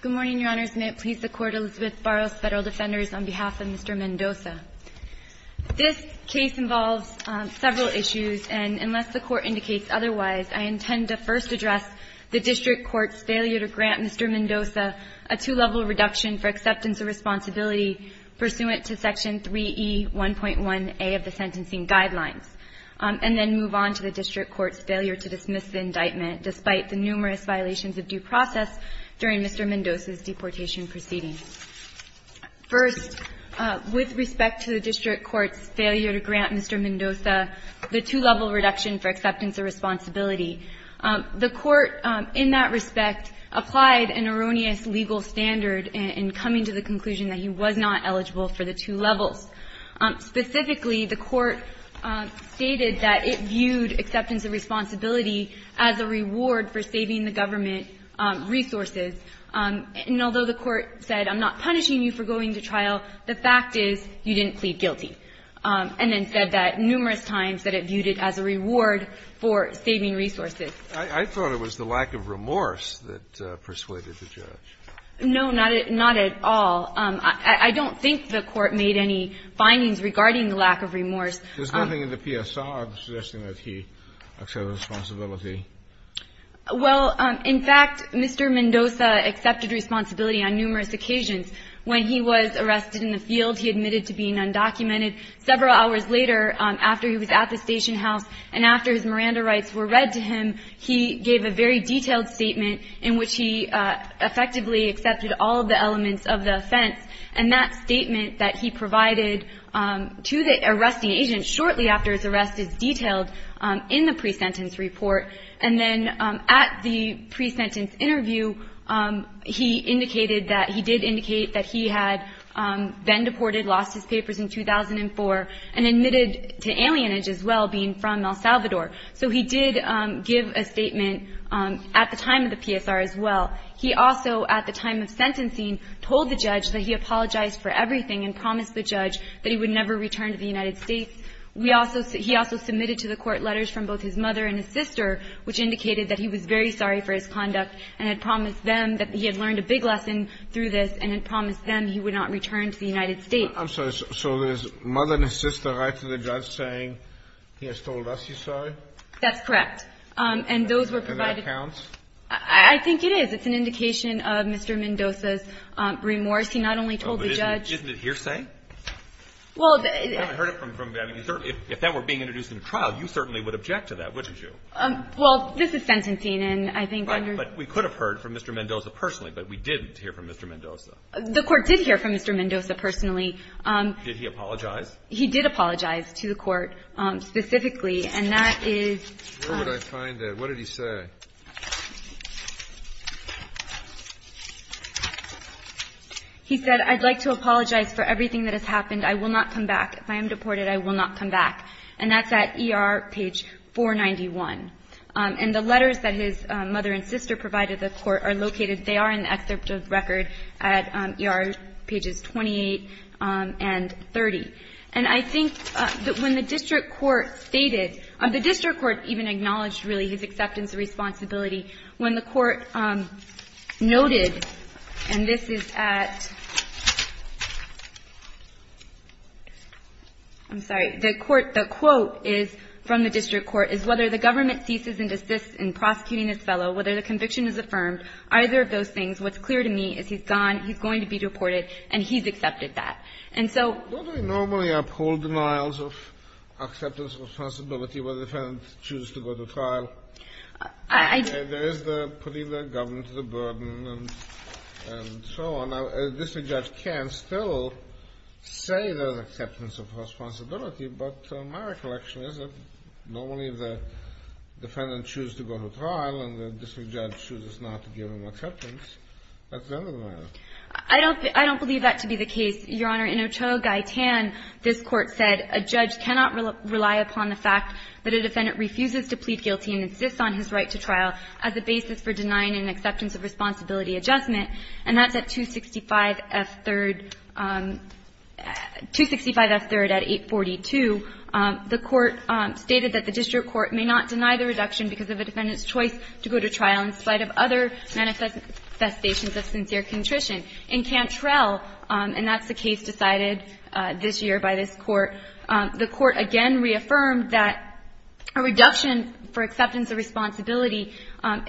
Good morning, Your Honors. May it please the Court, Elizabeth Barros, Federal Defenders, on behalf of Mr. Mendoza. This case involves several issues, and unless the Court indicates otherwise, I intend to first address the District Court's failure to grant Mr. Mendoza a two-level reduction for acceptance of responsibility pursuant to Section 3E1.1a of the Sentencing Guidelines, and then move on to the District Court's failure to dismiss the indictment, despite the numerous violations of due process during Mr. Mendoza's deportation proceedings. First, with respect to the District Court's failure to grant Mr. Mendoza the two-level reduction for acceptance of responsibility, the Court, in that respect, applied an erroneous legal standard in coming to the conclusion that he was not eligible for the two levels. Specifically, the Court stated that it viewed acceptance of responsibility as a reward for saving the government resources. And although the Court said, I'm not punishing you for going to trial, the fact is you didn't plead guilty, and then said that numerous times, that it viewed it as a reward for saving resources. I thought it was the lack of remorse that persuaded the judge. No, not at all. I don't think the Court made any findings regarding the lack of remorse. There's nothing in the PSR suggesting that he accepted responsibility. Well, in fact, Mr. Mendoza accepted responsibility on numerous occasions. When he was arrested in the field, he admitted to being undocumented. Several hours later, after he was at the station house and after his Miranda rights were read to him, he gave a very detailed statement in which he effectively accepted all of the elements of the offense, and that statement that he provided to the arresting agent shortly after his arrest is detailed in the pre-sentence report. And then at the pre-sentence interview, he indicated that he did indicate that he had been deported, lost his papers in 2004, and admitted to alienage as well, being from El Salvador. So he did give a statement at the time of the PSR as well. He also, at the time of sentencing, told the judge that he apologized for everything and promised the judge that he would never return to the United States. We also – he also submitted to the Court letters from both his mother and his sister, which indicated that he was very sorry for his conduct, and had promised them that he had learned a big lesson through this, and had promised them he would not return to the United States. I'm sorry. So his mother and his sister write to the judge saying he has told us he's sorry? That's correct. And those were provided to him. And that counts? I think it is. It's an indication of Mr. Mendoza's remorse. He not only told the judge – Isn't it hearsay? Well – I haven't heard it from – I mean, if that were being introduced in a trial, you certainly would object to that, wouldn't you? Well, this is sentencing, and I think under – Right. But we could have heard from Mr. Mendoza personally, but we didn't hear from Mr. Mendoza. The Court did hear from Mr. Mendoza personally. Did he apologize? He did apologize to the Court specifically, and that is – Where would I find it? What did he say? He said, I'd like to apologize for everything that has happened. I will not come back. If I am deported, I will not come back. And that's at ER, page 491. And the letters that his mother and sister provided the Court are located – they are in the excerpt of record at ER, pages 28 and 30. And I think that when the district court stated – the district court even acknowledged, really, his acceptance of responsibility when the Court noted – and this is at – I'm sorry. The Court – the quote is – from the district court is, whether the government ceases and desists in prosecuting this fellow, whether the conviction is affirmed, either of those things, what's clear to me is he's gone, he's going to be deported, and he's accepted that. And so – I don't – I don't believe that to be the case, Your Honor. In Ochoa-Gaitan, this Court said, A judge cannot rely upon the fact that a defendant refuses to plead guilty and insists on his right to trial as a basis for denying an acceptance of responsibility adjustment. And that's at 265F3rd – 265F3rd at 842. The Court stated that the district court may not deny the reduction because of a defendant's choice to go to trial in spite of other manifestations of sincere contrition. In Cantrell, and that's the case decided this year by this Court, the Court again reaffirmed that a reduction for acceptance of responsibility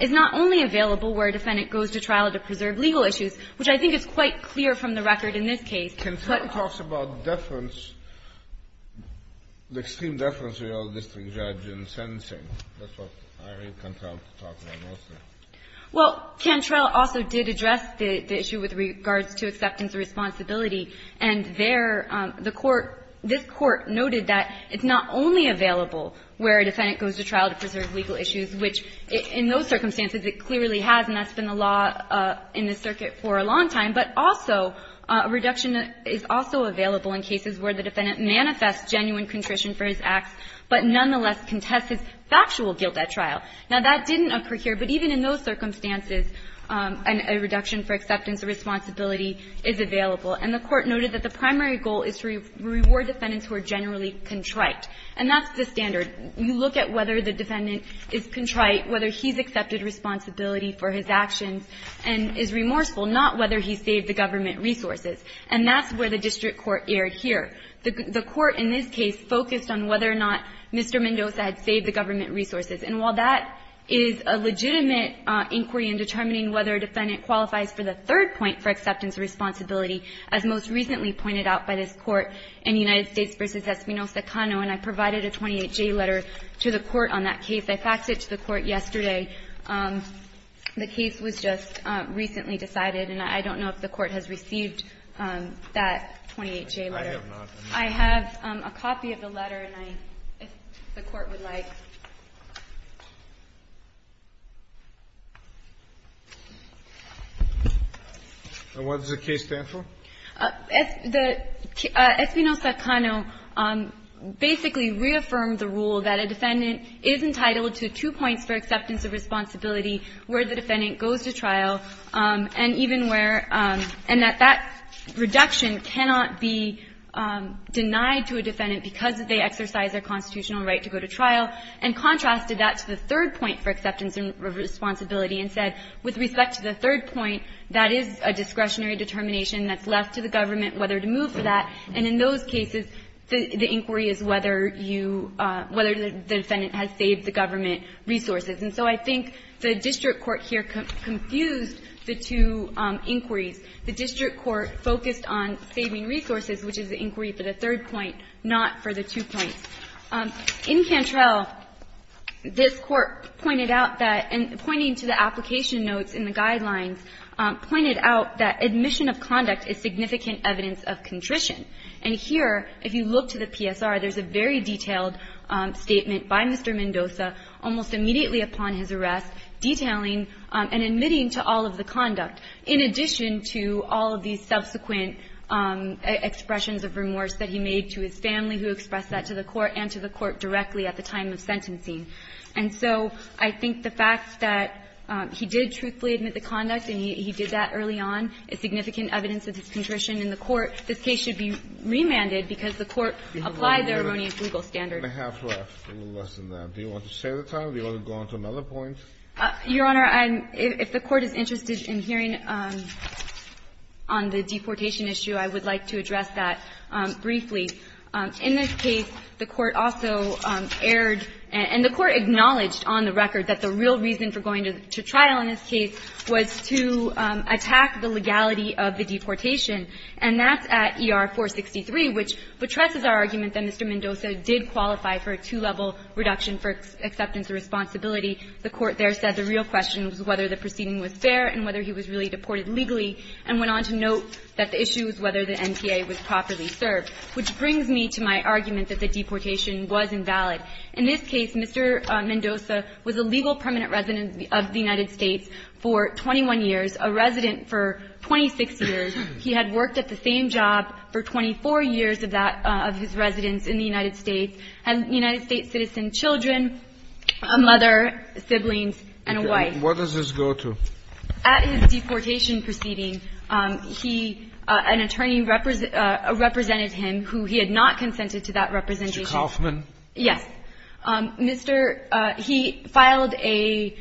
is not only available where a defendant goes to trial to preserve legal issues, which I think is quite clear from the record in this case, but – Cantrell talks about deference, the extreme deference of a district judge in sentencing. That's what I read Cantrell to talk about mostly. Well, Cantrell also did address the issue with regards to acceptance of responsibility. And there, the Court – this Court noted that it's not only available where a defendant goes to trial to preserve legal issues, which in those circumstances it clearly has, and that's been the law in this circuit for a long time, but also a reduction is also available in cases where the defendant manifests genuine contrition for his acts, but nonetheless contests his factual guilt at trial. Now, that didn't occur here, but even in those circumstances, a reduction for acceptance of responsibility is available. And the Court noted that the primary goal is to reward defendants who are generally contrite. And that's the standard. You look at whether the defendant is contrite, whether he's accepted responsibility for his actions, and is remorseful, not whether he saved the government resources. And that's where the district court erred here. The Court in this case focused on whether or not Mr. Mendoza had saved the government resources. And while that is a legitimate inquiry in determining whether a defendant qualifies for the third point for acceptance of responsibility, as most recently pointed out by this Court in United States v. Espinosa-Cano, and I provided a 28-J letter to the Court on that case. I faxed it to the Court yesterday. The case was just recently decided, and I don't know if the Court has received that 28-J letter. Kennedy, I have not. I would like to see if you would like to comment on that, if you would like to comment on that. And what does the case stand for? Espinosa-Cano basically reaffirmed the rule that a defendant is entitled to two points for acceptance of responsibility where the defendant goes to trial, and even where – and that that reduction cannot be denied to a defendant because they exercise their constitutional right to go to trial. And contrasted that to the third point for acceptance of responsibility and said, with respect to the third point, that is a discretionary determination that's left to the government whether to move for that. And in those cases, the inquiry is whether you – whether the defendant has saved the government resources. And so I think the district court here confused the two inquiries. The district court focused on saving resources, which is the inquiry for the third point, not for the two points. In Cantrell, this Court pointed out that – and pointing to the application notes in the Guidelines, pointed out that admission of conduct is significant evidence of contrition. And here, if you look to the PSR, there's a very detailed statement by Mr. Mendoza almost immediately upon his arrest detailing and admitting to all of the conduct, in addition to all of these subsequent expressions of remorse that he made to his court and to the court directly at the time of sentencing. And so I think the fact that he did truthfully admit the conduct and he did that early on is significant evidence of his contrition in the court. This case should be remanded because the court applied their erroneous legal standard. Kennedy, I have left a little less than that. Do you want to save the time or do you want to go on to another point? Your Honor, I'm – if the Court is interested in hearing on the deportation issue, I would like to address that briefly. In this case, the Court also erred and the Court acknowledged on the record that the real reason for going to trial in this case was to attack the legality of the deportation. And that's at ER 463, which betresses our argument that Mr. Mendoza did qualify for a two-level reduction for acceptance of responsibility. The Court there said the real question was whether the proceeding was fair and whether he was really deported legally, and went on to note that the issue was whether the NTA was properly served. Which brings me to my argument that the deportation was invalid. In this case, Mr. Mendoza was a legal permanent resident of the United States for 21 years, a resident for 26 years. He had worked at the same job for 24 years of that – of his residence in the United States, had United States citizen children, a mother, siblings, and a wife. What does this go to? At his deportation proceeding, he – an attorney represented him who he had not consented to that representation. Mr. Kaufman? Yes. Mr. – he filed a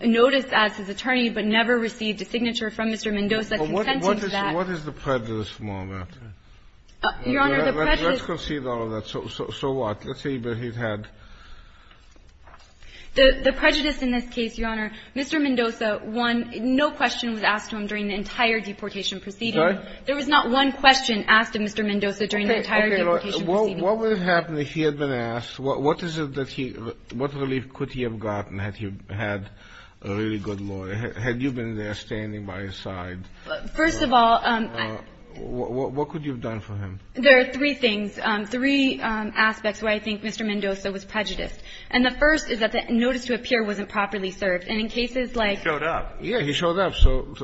notice as his attorney, but never received a signature from Mr. Mendoza consenting to that. What is the prejudice, more or less? Your Honor, the prejudice – Let's concede all of that. So what? Let's say that he had – The prejudice in this case, Your Honor, Mr. Mendoza was a legal permanent resident of the United States. He had not – no question was asked to him during the entire deportation proceeding. There was not one question asked of Mr. Mendoza during the entire deportation proceeding. Okay. Okay. Your Honor, what would have happened if he had been asked? What is it that he – what relief could he have gotten had he had a really good lawyer? Had you been there standing by his side? First of all, I – What could you have done for him? There are three things, three aspects where I think Mr. Mendoza was prejudiced. And the first is that the notice to appear wasn't properly served. And in cases like – He showed up. Yes, he showed up. So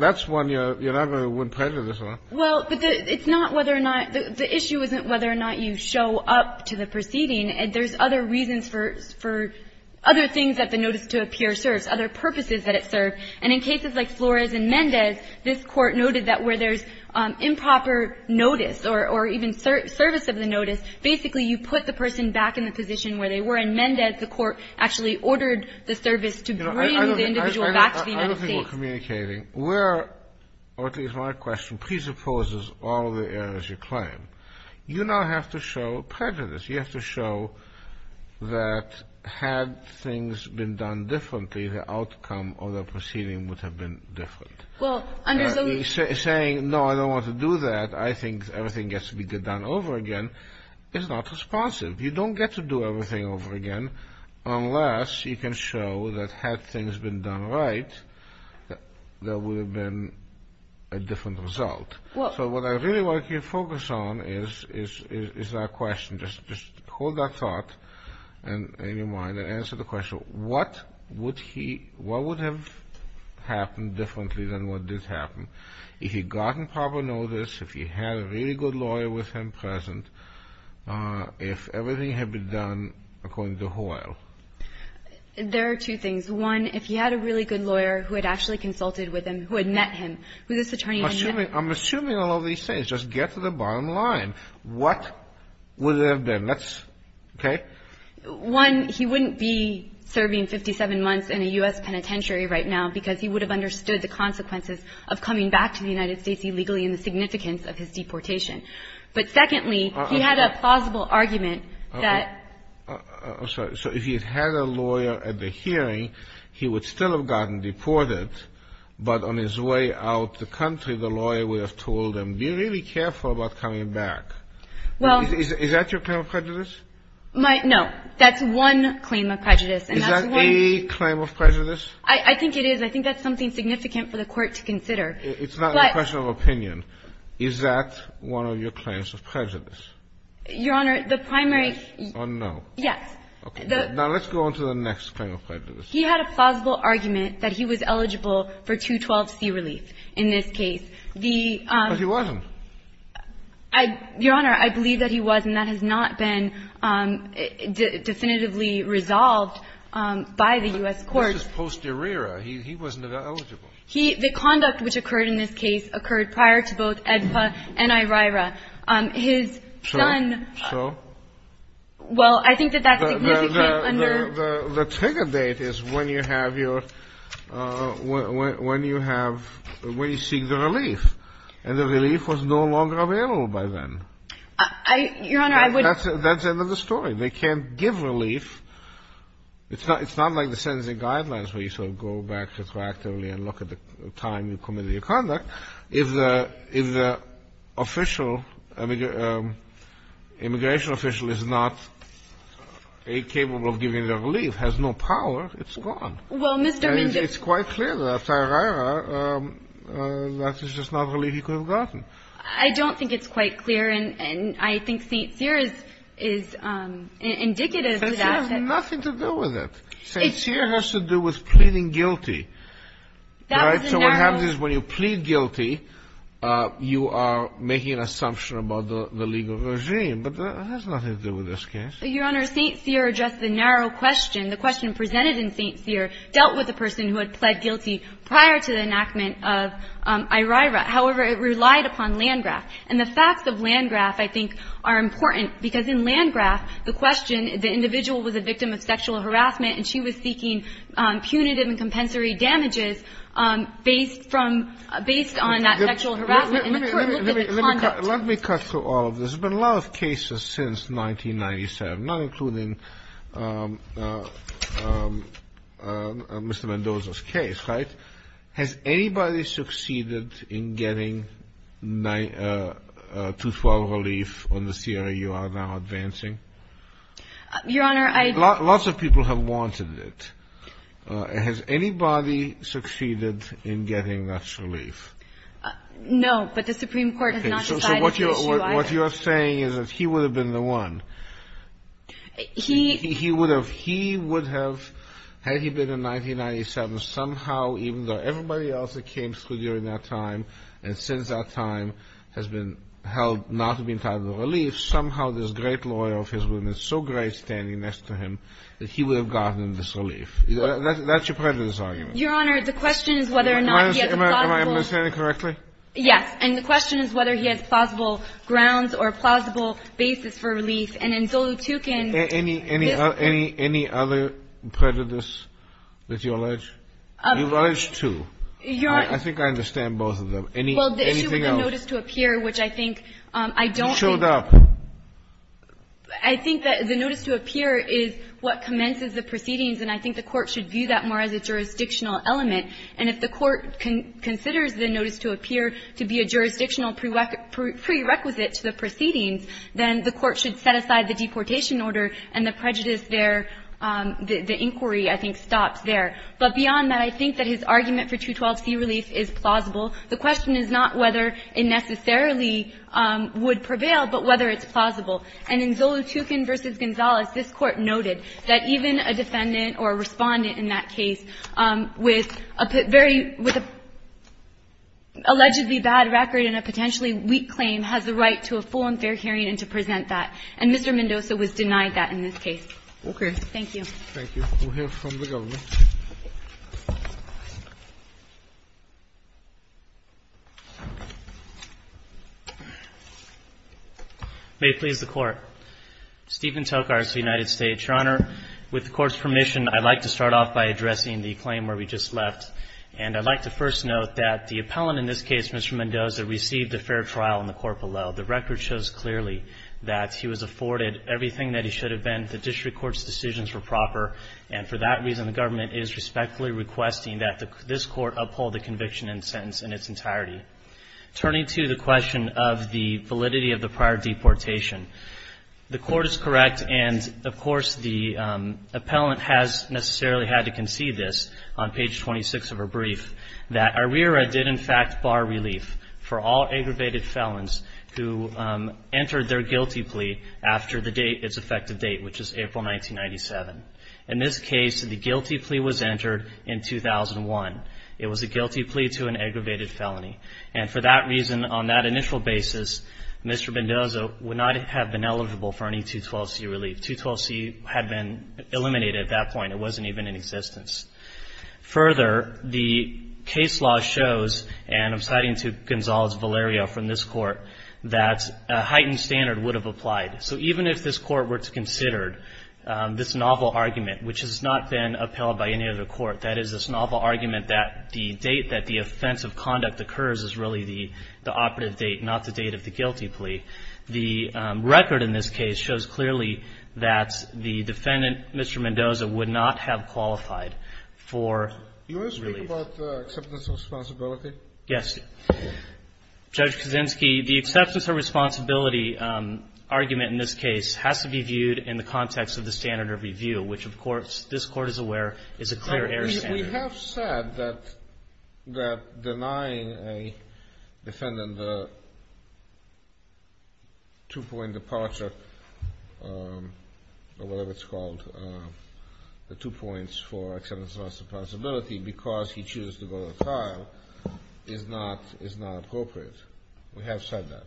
that's one you're not going to win prejudice on. Well, but it's not whether or not – the issue isn't whether or not you show up to the proceeding. There's other reasons for – for other things that the notice to appear serves, other purposes that it serves. And in cases like Flores and Mendez, this Court noted that where there's improper notice or even service of the notice, basically you put the person back in the position where they were, and Mendez, the Court actually ordered the service to bring the individual back to the United States. I don't think we're communicating where – or at least my question presupposes all of the errors you claim. You now have to show prejudice. You have to show that had things been done differently, the outcome of the proceeding would have been different. Well, under the – Saying, no, I don't want to do that, I think everything gets to be done over again, is not responsive. You don't get to do everything over again unless you can show that had things been done right, there would have been a different result. So what I really want you to focus on is that question. Just hold that thought in your mind and answer the question, what would he – what would have happened differently than what did happen if he'd gotten proper notice, if he had a really good lawyer with him present, if everything had been done according to Hoyle? There are two things. One, if he had a really good lawyer who had actually consulted with him, who had met him, who this attorney had met – I'm assuming all of these things, just get to the bottom line. What would it have been? That's – okay? One, he wouldn't be serving 57 months in a U.S. penitentiary right now because he would have understood the consequences of coming back to the United States illegally and the significance of his deportation. But secondly, he had a plausible argument that – I'm sorry. So if he had had a lawyer at the hearing, he would still have gotten deported, but on his way out the country, the lawyer would have told him, be really careful about coming back. Is that your claim of prejudice? No. That's one claim of prejudice. Is that a claim of prejudice? I think it is. I think that's something significant for the Court to consider. It's not a question of opinion. Is that one of your claims of prejudice? Your Honor, the primary – Or no. Yes. Now let's go on to the next claim of prejudice. He had a plausible argument that he was eligible for 212C relief in this case. The – But he wasn't. Your Honor, I believe that he was, and that has not been definitively resolved by the U.S. Court. He was just posterior. He wasn't eligible. He – the conduct which occurred in this case occurred prior to both AEDPA and IRIRA. His son – So? Well, I think that that's significant under – The trigger date is when you have your – when you have – when you seek the relief. And the relief was no longer available by then. I – Your Honor, I would – That's the end of the story. They can't give relief. It's not like the sentencing guidelines where you sort of go back retroactively and look at the time you committed your conduct. If the – if the official – immigration official is not capable of giving the relief, has no power, it's gone. Well, Mr. Mendes – And it's quite clear that after IRIRA, that is just not relief he could have gotten. I don't think it's quite clear, and I think St. Cyr is indicative of that. It has nothing to do with it. St. Cyr has to do with pleading guilty. That was a narrow – So what happens is when you plead guilty, you are making an assumption about the legal regime. But that has nothing to do with this case. Your Honor, St. Cyr addressed the narrow question. The question presented in St. Cyr dealt with a person who had pled guilty prior to the enactment of IRIRA. However, it relied upon Landgraf. And the facts of Landgraf, I think, are important. Because in Landgraf, the question – the individual was a victim of sexual harassment and she was seeking punitive and compensatory damages based from – based on that sexual harassment and the court looked at the conduct. Let me cut through all of this. There's been a lot of cases since 1997, not including Mr. Mendoza's case, right? Has anybody succeeded in getting 212 relief on the CRA you are now advancing? Your Honor, I – Lots of people have wanted it. Has anybody succeeded in getting that relief? No, but the Supreme Court has not decided the issue. So what you are saying is that he would have been the one. He – He would have – he would have – In 1997, somehow, even though everybody else that came through during that time and since that time has been held not to be entitled to relief, somehow this great lawyer of his was so great standing next to him that he would have gotten this relief. That's your prejudice argument. Your Honor, the question is whether or not he has a plausible – Am I understanding correctly? Yes. And the question is whether he has plausible grounds or plausible basis for relief. And in Zolotukin – Any other prejudice that you allege? You've alleged two. Your Honor – I think I understand both of them. Anything else? Well, the issue with the notice to appear, which I think I don't think – You showed up. I think that the notice to appear is what commences the proceedings and I think the Court should view that more as a jurisdictional element. And if the Court considers the notice to appear to be a jurisdictional prerequisite to the proceedings, then the Court should set aside the deportation order and the prejudice there – the inquiry, I think, stops there. But beyond that, I think that his argument for 212c relief is plausible. The question is not whether it necessarily would prevail, but whether it's plausible. And in Zolotukin v. Gonzales, this Court noted that even a defendant or a respondent in that case with a very – with an allegedly bad record and a potentially weak claim has the right to a full and fair hearing and to present that. And Mr. Mendoza was denied that in this case. Okay. Thank you. Thank you. We'll hear from the Governor. May it please the Court. Stephen Tokars, United States. Your Honor, with the Court's permission, I'd like to start off by addressing the claim where we just left. And I'd like to first note that the appellant in this case, Mr. Mendoza, received a fair trial in the court below. The record shows clearly that he was afforded everything that he should have been. The district court's decisions were proper. And for that reason, the government is respectfully requesting that this Court uphold the conviction and sentence in its entirety. Turning to the question of the validity of the prior deportation, the Court is correct. And, of course, the appellant has necessarily had to concede this on page 26 of her brief that ARERA did in fact bar relief for all aggravated felons who entered their guilty plea after the date, its effective date, which is April 1997. In this case, the guilty plea was entered in 2001. It was a guilty plea to an aggravated felony. And for that reason, on that initial basis, Mr. Mendoza would not have been eligible for any 212C relief. 212C had been eliminated at that point. It wasn't even in existence. Further, the case law shows, and I'm citing to Gonzales Valerio from this Court, that a heightened standard would have applied. So even if this Court were to consider this novel argument, which has not been upheld by any other Court, that is this novel argument that the date that the offense of conduct occurs is really the operative date, not the date of the guilty plea, the record in this case shows clearly that the defendant, Mr. Mendoza, would not have qualified for relief. Do you want to speak about acceptance of responsibility? Yes. Judge Kaczynski, the acceptance of responsibility argument in this case has to be viewed in the context of the standard of review, which, of course, this Court is aware is a clear error standard. We have said that denying a defendant a two-point departure, or whatever it's called, the two points for acceptance of responsibility because he chooses to go to trial is not appropriate. We have said that.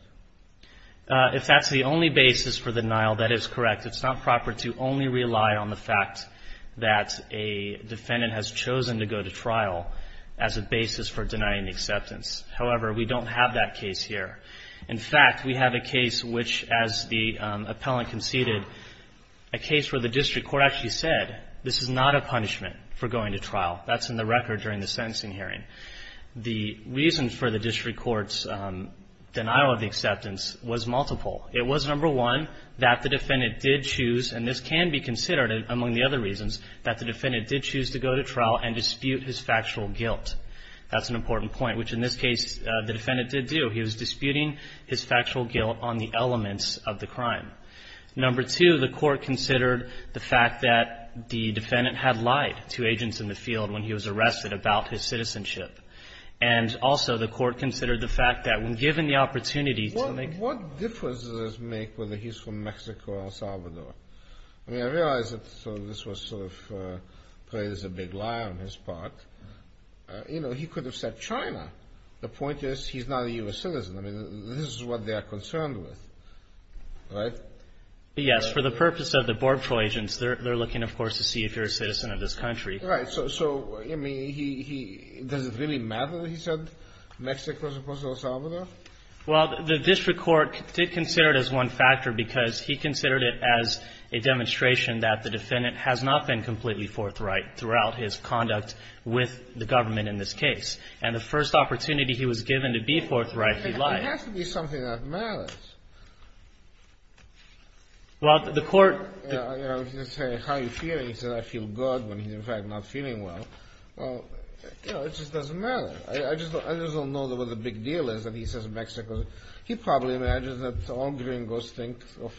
If that's the only basis for denial, that is correct. It's not proper to only rely on the fact that a defendant has chosen to go to trial as a basis for denying acceptance. However, we don't have that case here. In fact, we have a case which, as the appellant conceded, a case where the district court actually said this is not a punishment for going to trial. That's in the record during the sentencing hearing. The reason for the district court's denial of the acceptance was multiple. It was, number one, that the defendant did choose, and this can be considered among the other reasons, that the defendant did choose to go to trial and dispute his factual guilt. That's an important point, which, in this case, the defendant did do. He was disputing his factual guilt on the elements of the crime. Number two, the court considered the fact that the defendant had lied to agents in the field when he was arrested about his citizenship. And also, the court considered the fact that when given the opportunity to make... What difference does this make whether he's from Mexico or El Salvador? I mean, I realize that this was sort of played as a big lie on his part. You know, he could have said China. The point is he's not a U.S. citizen. I mean, this is what they are concerned with. Right? Yes. For the purpose of the Border Patrol agents, they're looking, of course, to see if you're a citizen of this country. Right. So, I mean, does it really matter what he said, Mexico as opposed to El Salvador? Well, the district court did consider it as one factor because he considered it as a demonstration that the defendant has not been completely forthright throughout his conduct with the government in this case. And the first opportunity he was given to be forthright he lied. It has to be something that matters. Well, the court, you know, if you say, how are you feeling? He said, I feel good when he's, in fact, not feeling well. Well, you know, it just doesn't matter. I just don't know what the big deal is He probably imagines that all gringos think of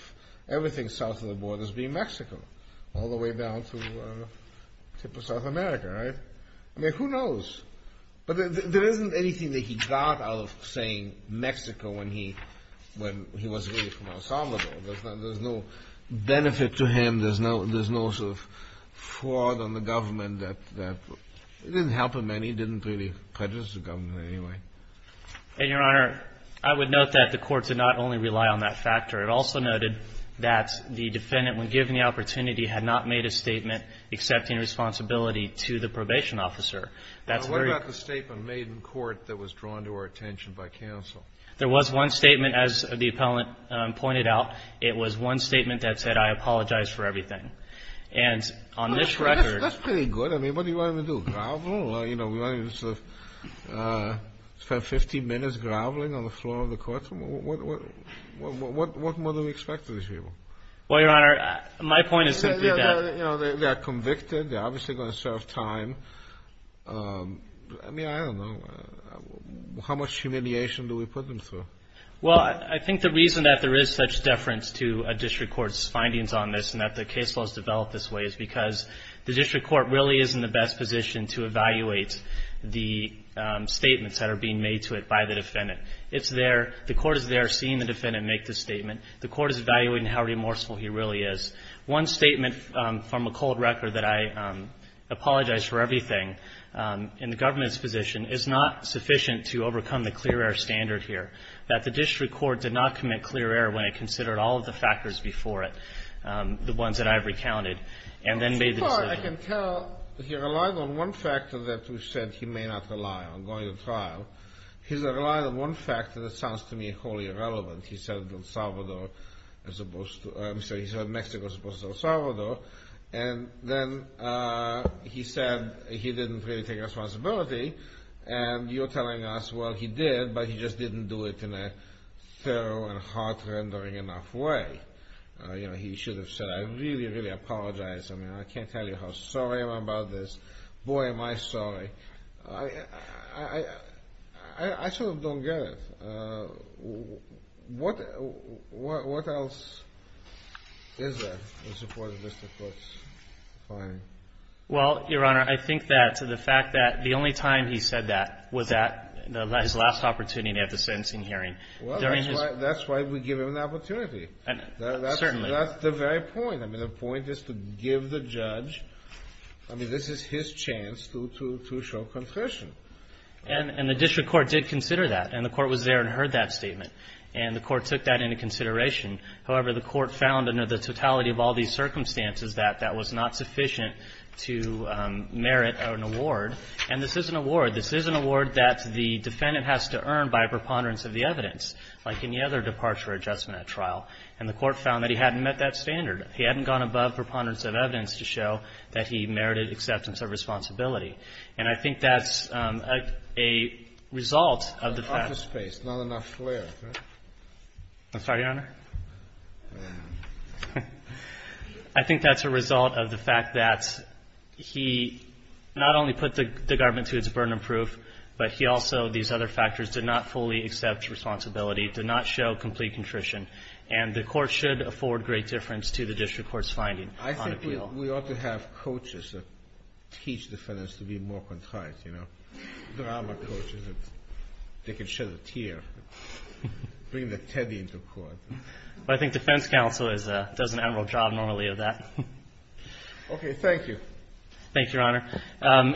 everything south of the border as being Mexico all the way down to the tip of South America. Right? I mean, who knows? But there isn't anything that he got out of saying Mexico when he was really from El Salvador. There's no benefit to him. There's no sort of fraud on the government that didn't help him and he didn't really prejudice the government anyway. And, Your Honor, I would note that the court did not only rely on that factor. It also noted that the defendant when given the opportunity had not made a statement accepting responsibility to the probation officer. Now what about the statement made in court that was drawn to our attention by counsel? There was one statement as the appellant pointed out. It was one statement that said, I apologize for everything. And on this record That's pretty good. I mean, what do you want him to do? Grovel? You know, spend 15 minutes groveling on the floor of the courtroom? What do we expect from these people? Well, Your Honor, my point is simply that. You know, they got convicted. They're obviously going to serve time. I mean, I don't know. How much humiliation do we put them through? Well, I think the reason that there is such deference to a district court's findings on this and that the case was developed this way is because the district court really is in the best position to evaluate the statements that are being made to it by the defendant. It's there. The court is there seeing the defendant make the statement. The court is evaluating how remorseful he really is. One statement from a cold record that I apologize for everything in the government's position is not sufficient to overcome the clear air standard here. That the district court did not commit clear air when it considered all of the factors before it, the ones that I've recounted and then made the decision. I can tell that he relied on one factor that we said he may not rely on going to trial. He's relied on one factor that sounds to me wholly irrelevant. He said El Salvador as opposed to I'm sorry he said Mexico as opposed to El Salvador and then he said he didn't really take responsibility and you're telling us well he did but he just didn't do it in a thorough and heart-rendering enough way. You know he should have said I really, really apologize. I mean I can't tell you how sorry I am about this. Boy am I sorry. I sort of don't get it. What else is there in support of Mr. Foote's finding? Well, Your Honor I think that to the fact that the only time he said that was at his last opportunity at the sentencing hearing. Well, that's why an opportunity. Certainly. That's the very point. I mean the point is to give the judge I mean this is his chance to say I'm sorry I'm sorry it's his chance to show confession. And the district court did consider that and the court was there and heard that statement and the court took that into consideration however the court found under the totality of all these circumstances that that was not sufficient to merit an award and this is an award this is an award that the defendant has to earn by a preponderance of the evidence like any other departure adjustment at trial and the court found that he hadn't met that standard he hadn't gone above preponderance of evidence to show that he merited acceptance of responsibility and I think that's a result of the fact I'm sorry your honor I think that's a result of the fact that he not only put the government to its burden of proof but he also these other factors did not fully accept responsibility did not show complete contrition and the court should afford great difference to the district court's finding on appeal I think we ought to have coaches that teach defendants to be more concise you know drama coaches that can shed a tear bring the teddy into court I think defense counsel does an admirable job normally of that okay thank you thank you your honor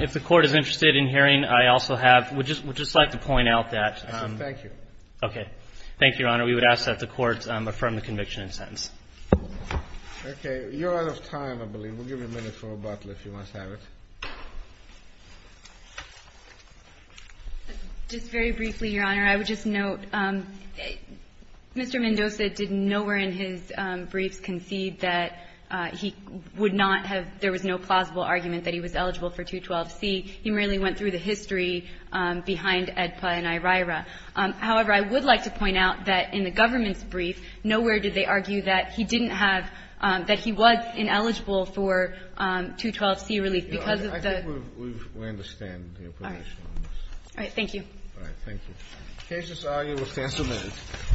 if the court is interested in hearing I also have would just like to point out that thank you okay thank you your honor we would ask that the court affirm the conviction and sentence okay you're out of time I believe we'll give you a minute for rebuttal if you must have it just very briefly your honor I would just note Mr. Mendoza did nowhere in his briefs concede that he would not have there was no plausible argument that he was eligible for 212c he merely went through the history behind EDPA and IRAIRA however I would like to point out that in the government's brief nowhere did they argue that he didn't have that he was ineligible for 212c relief because of the I think we understand the information on this all right thank you all right thank you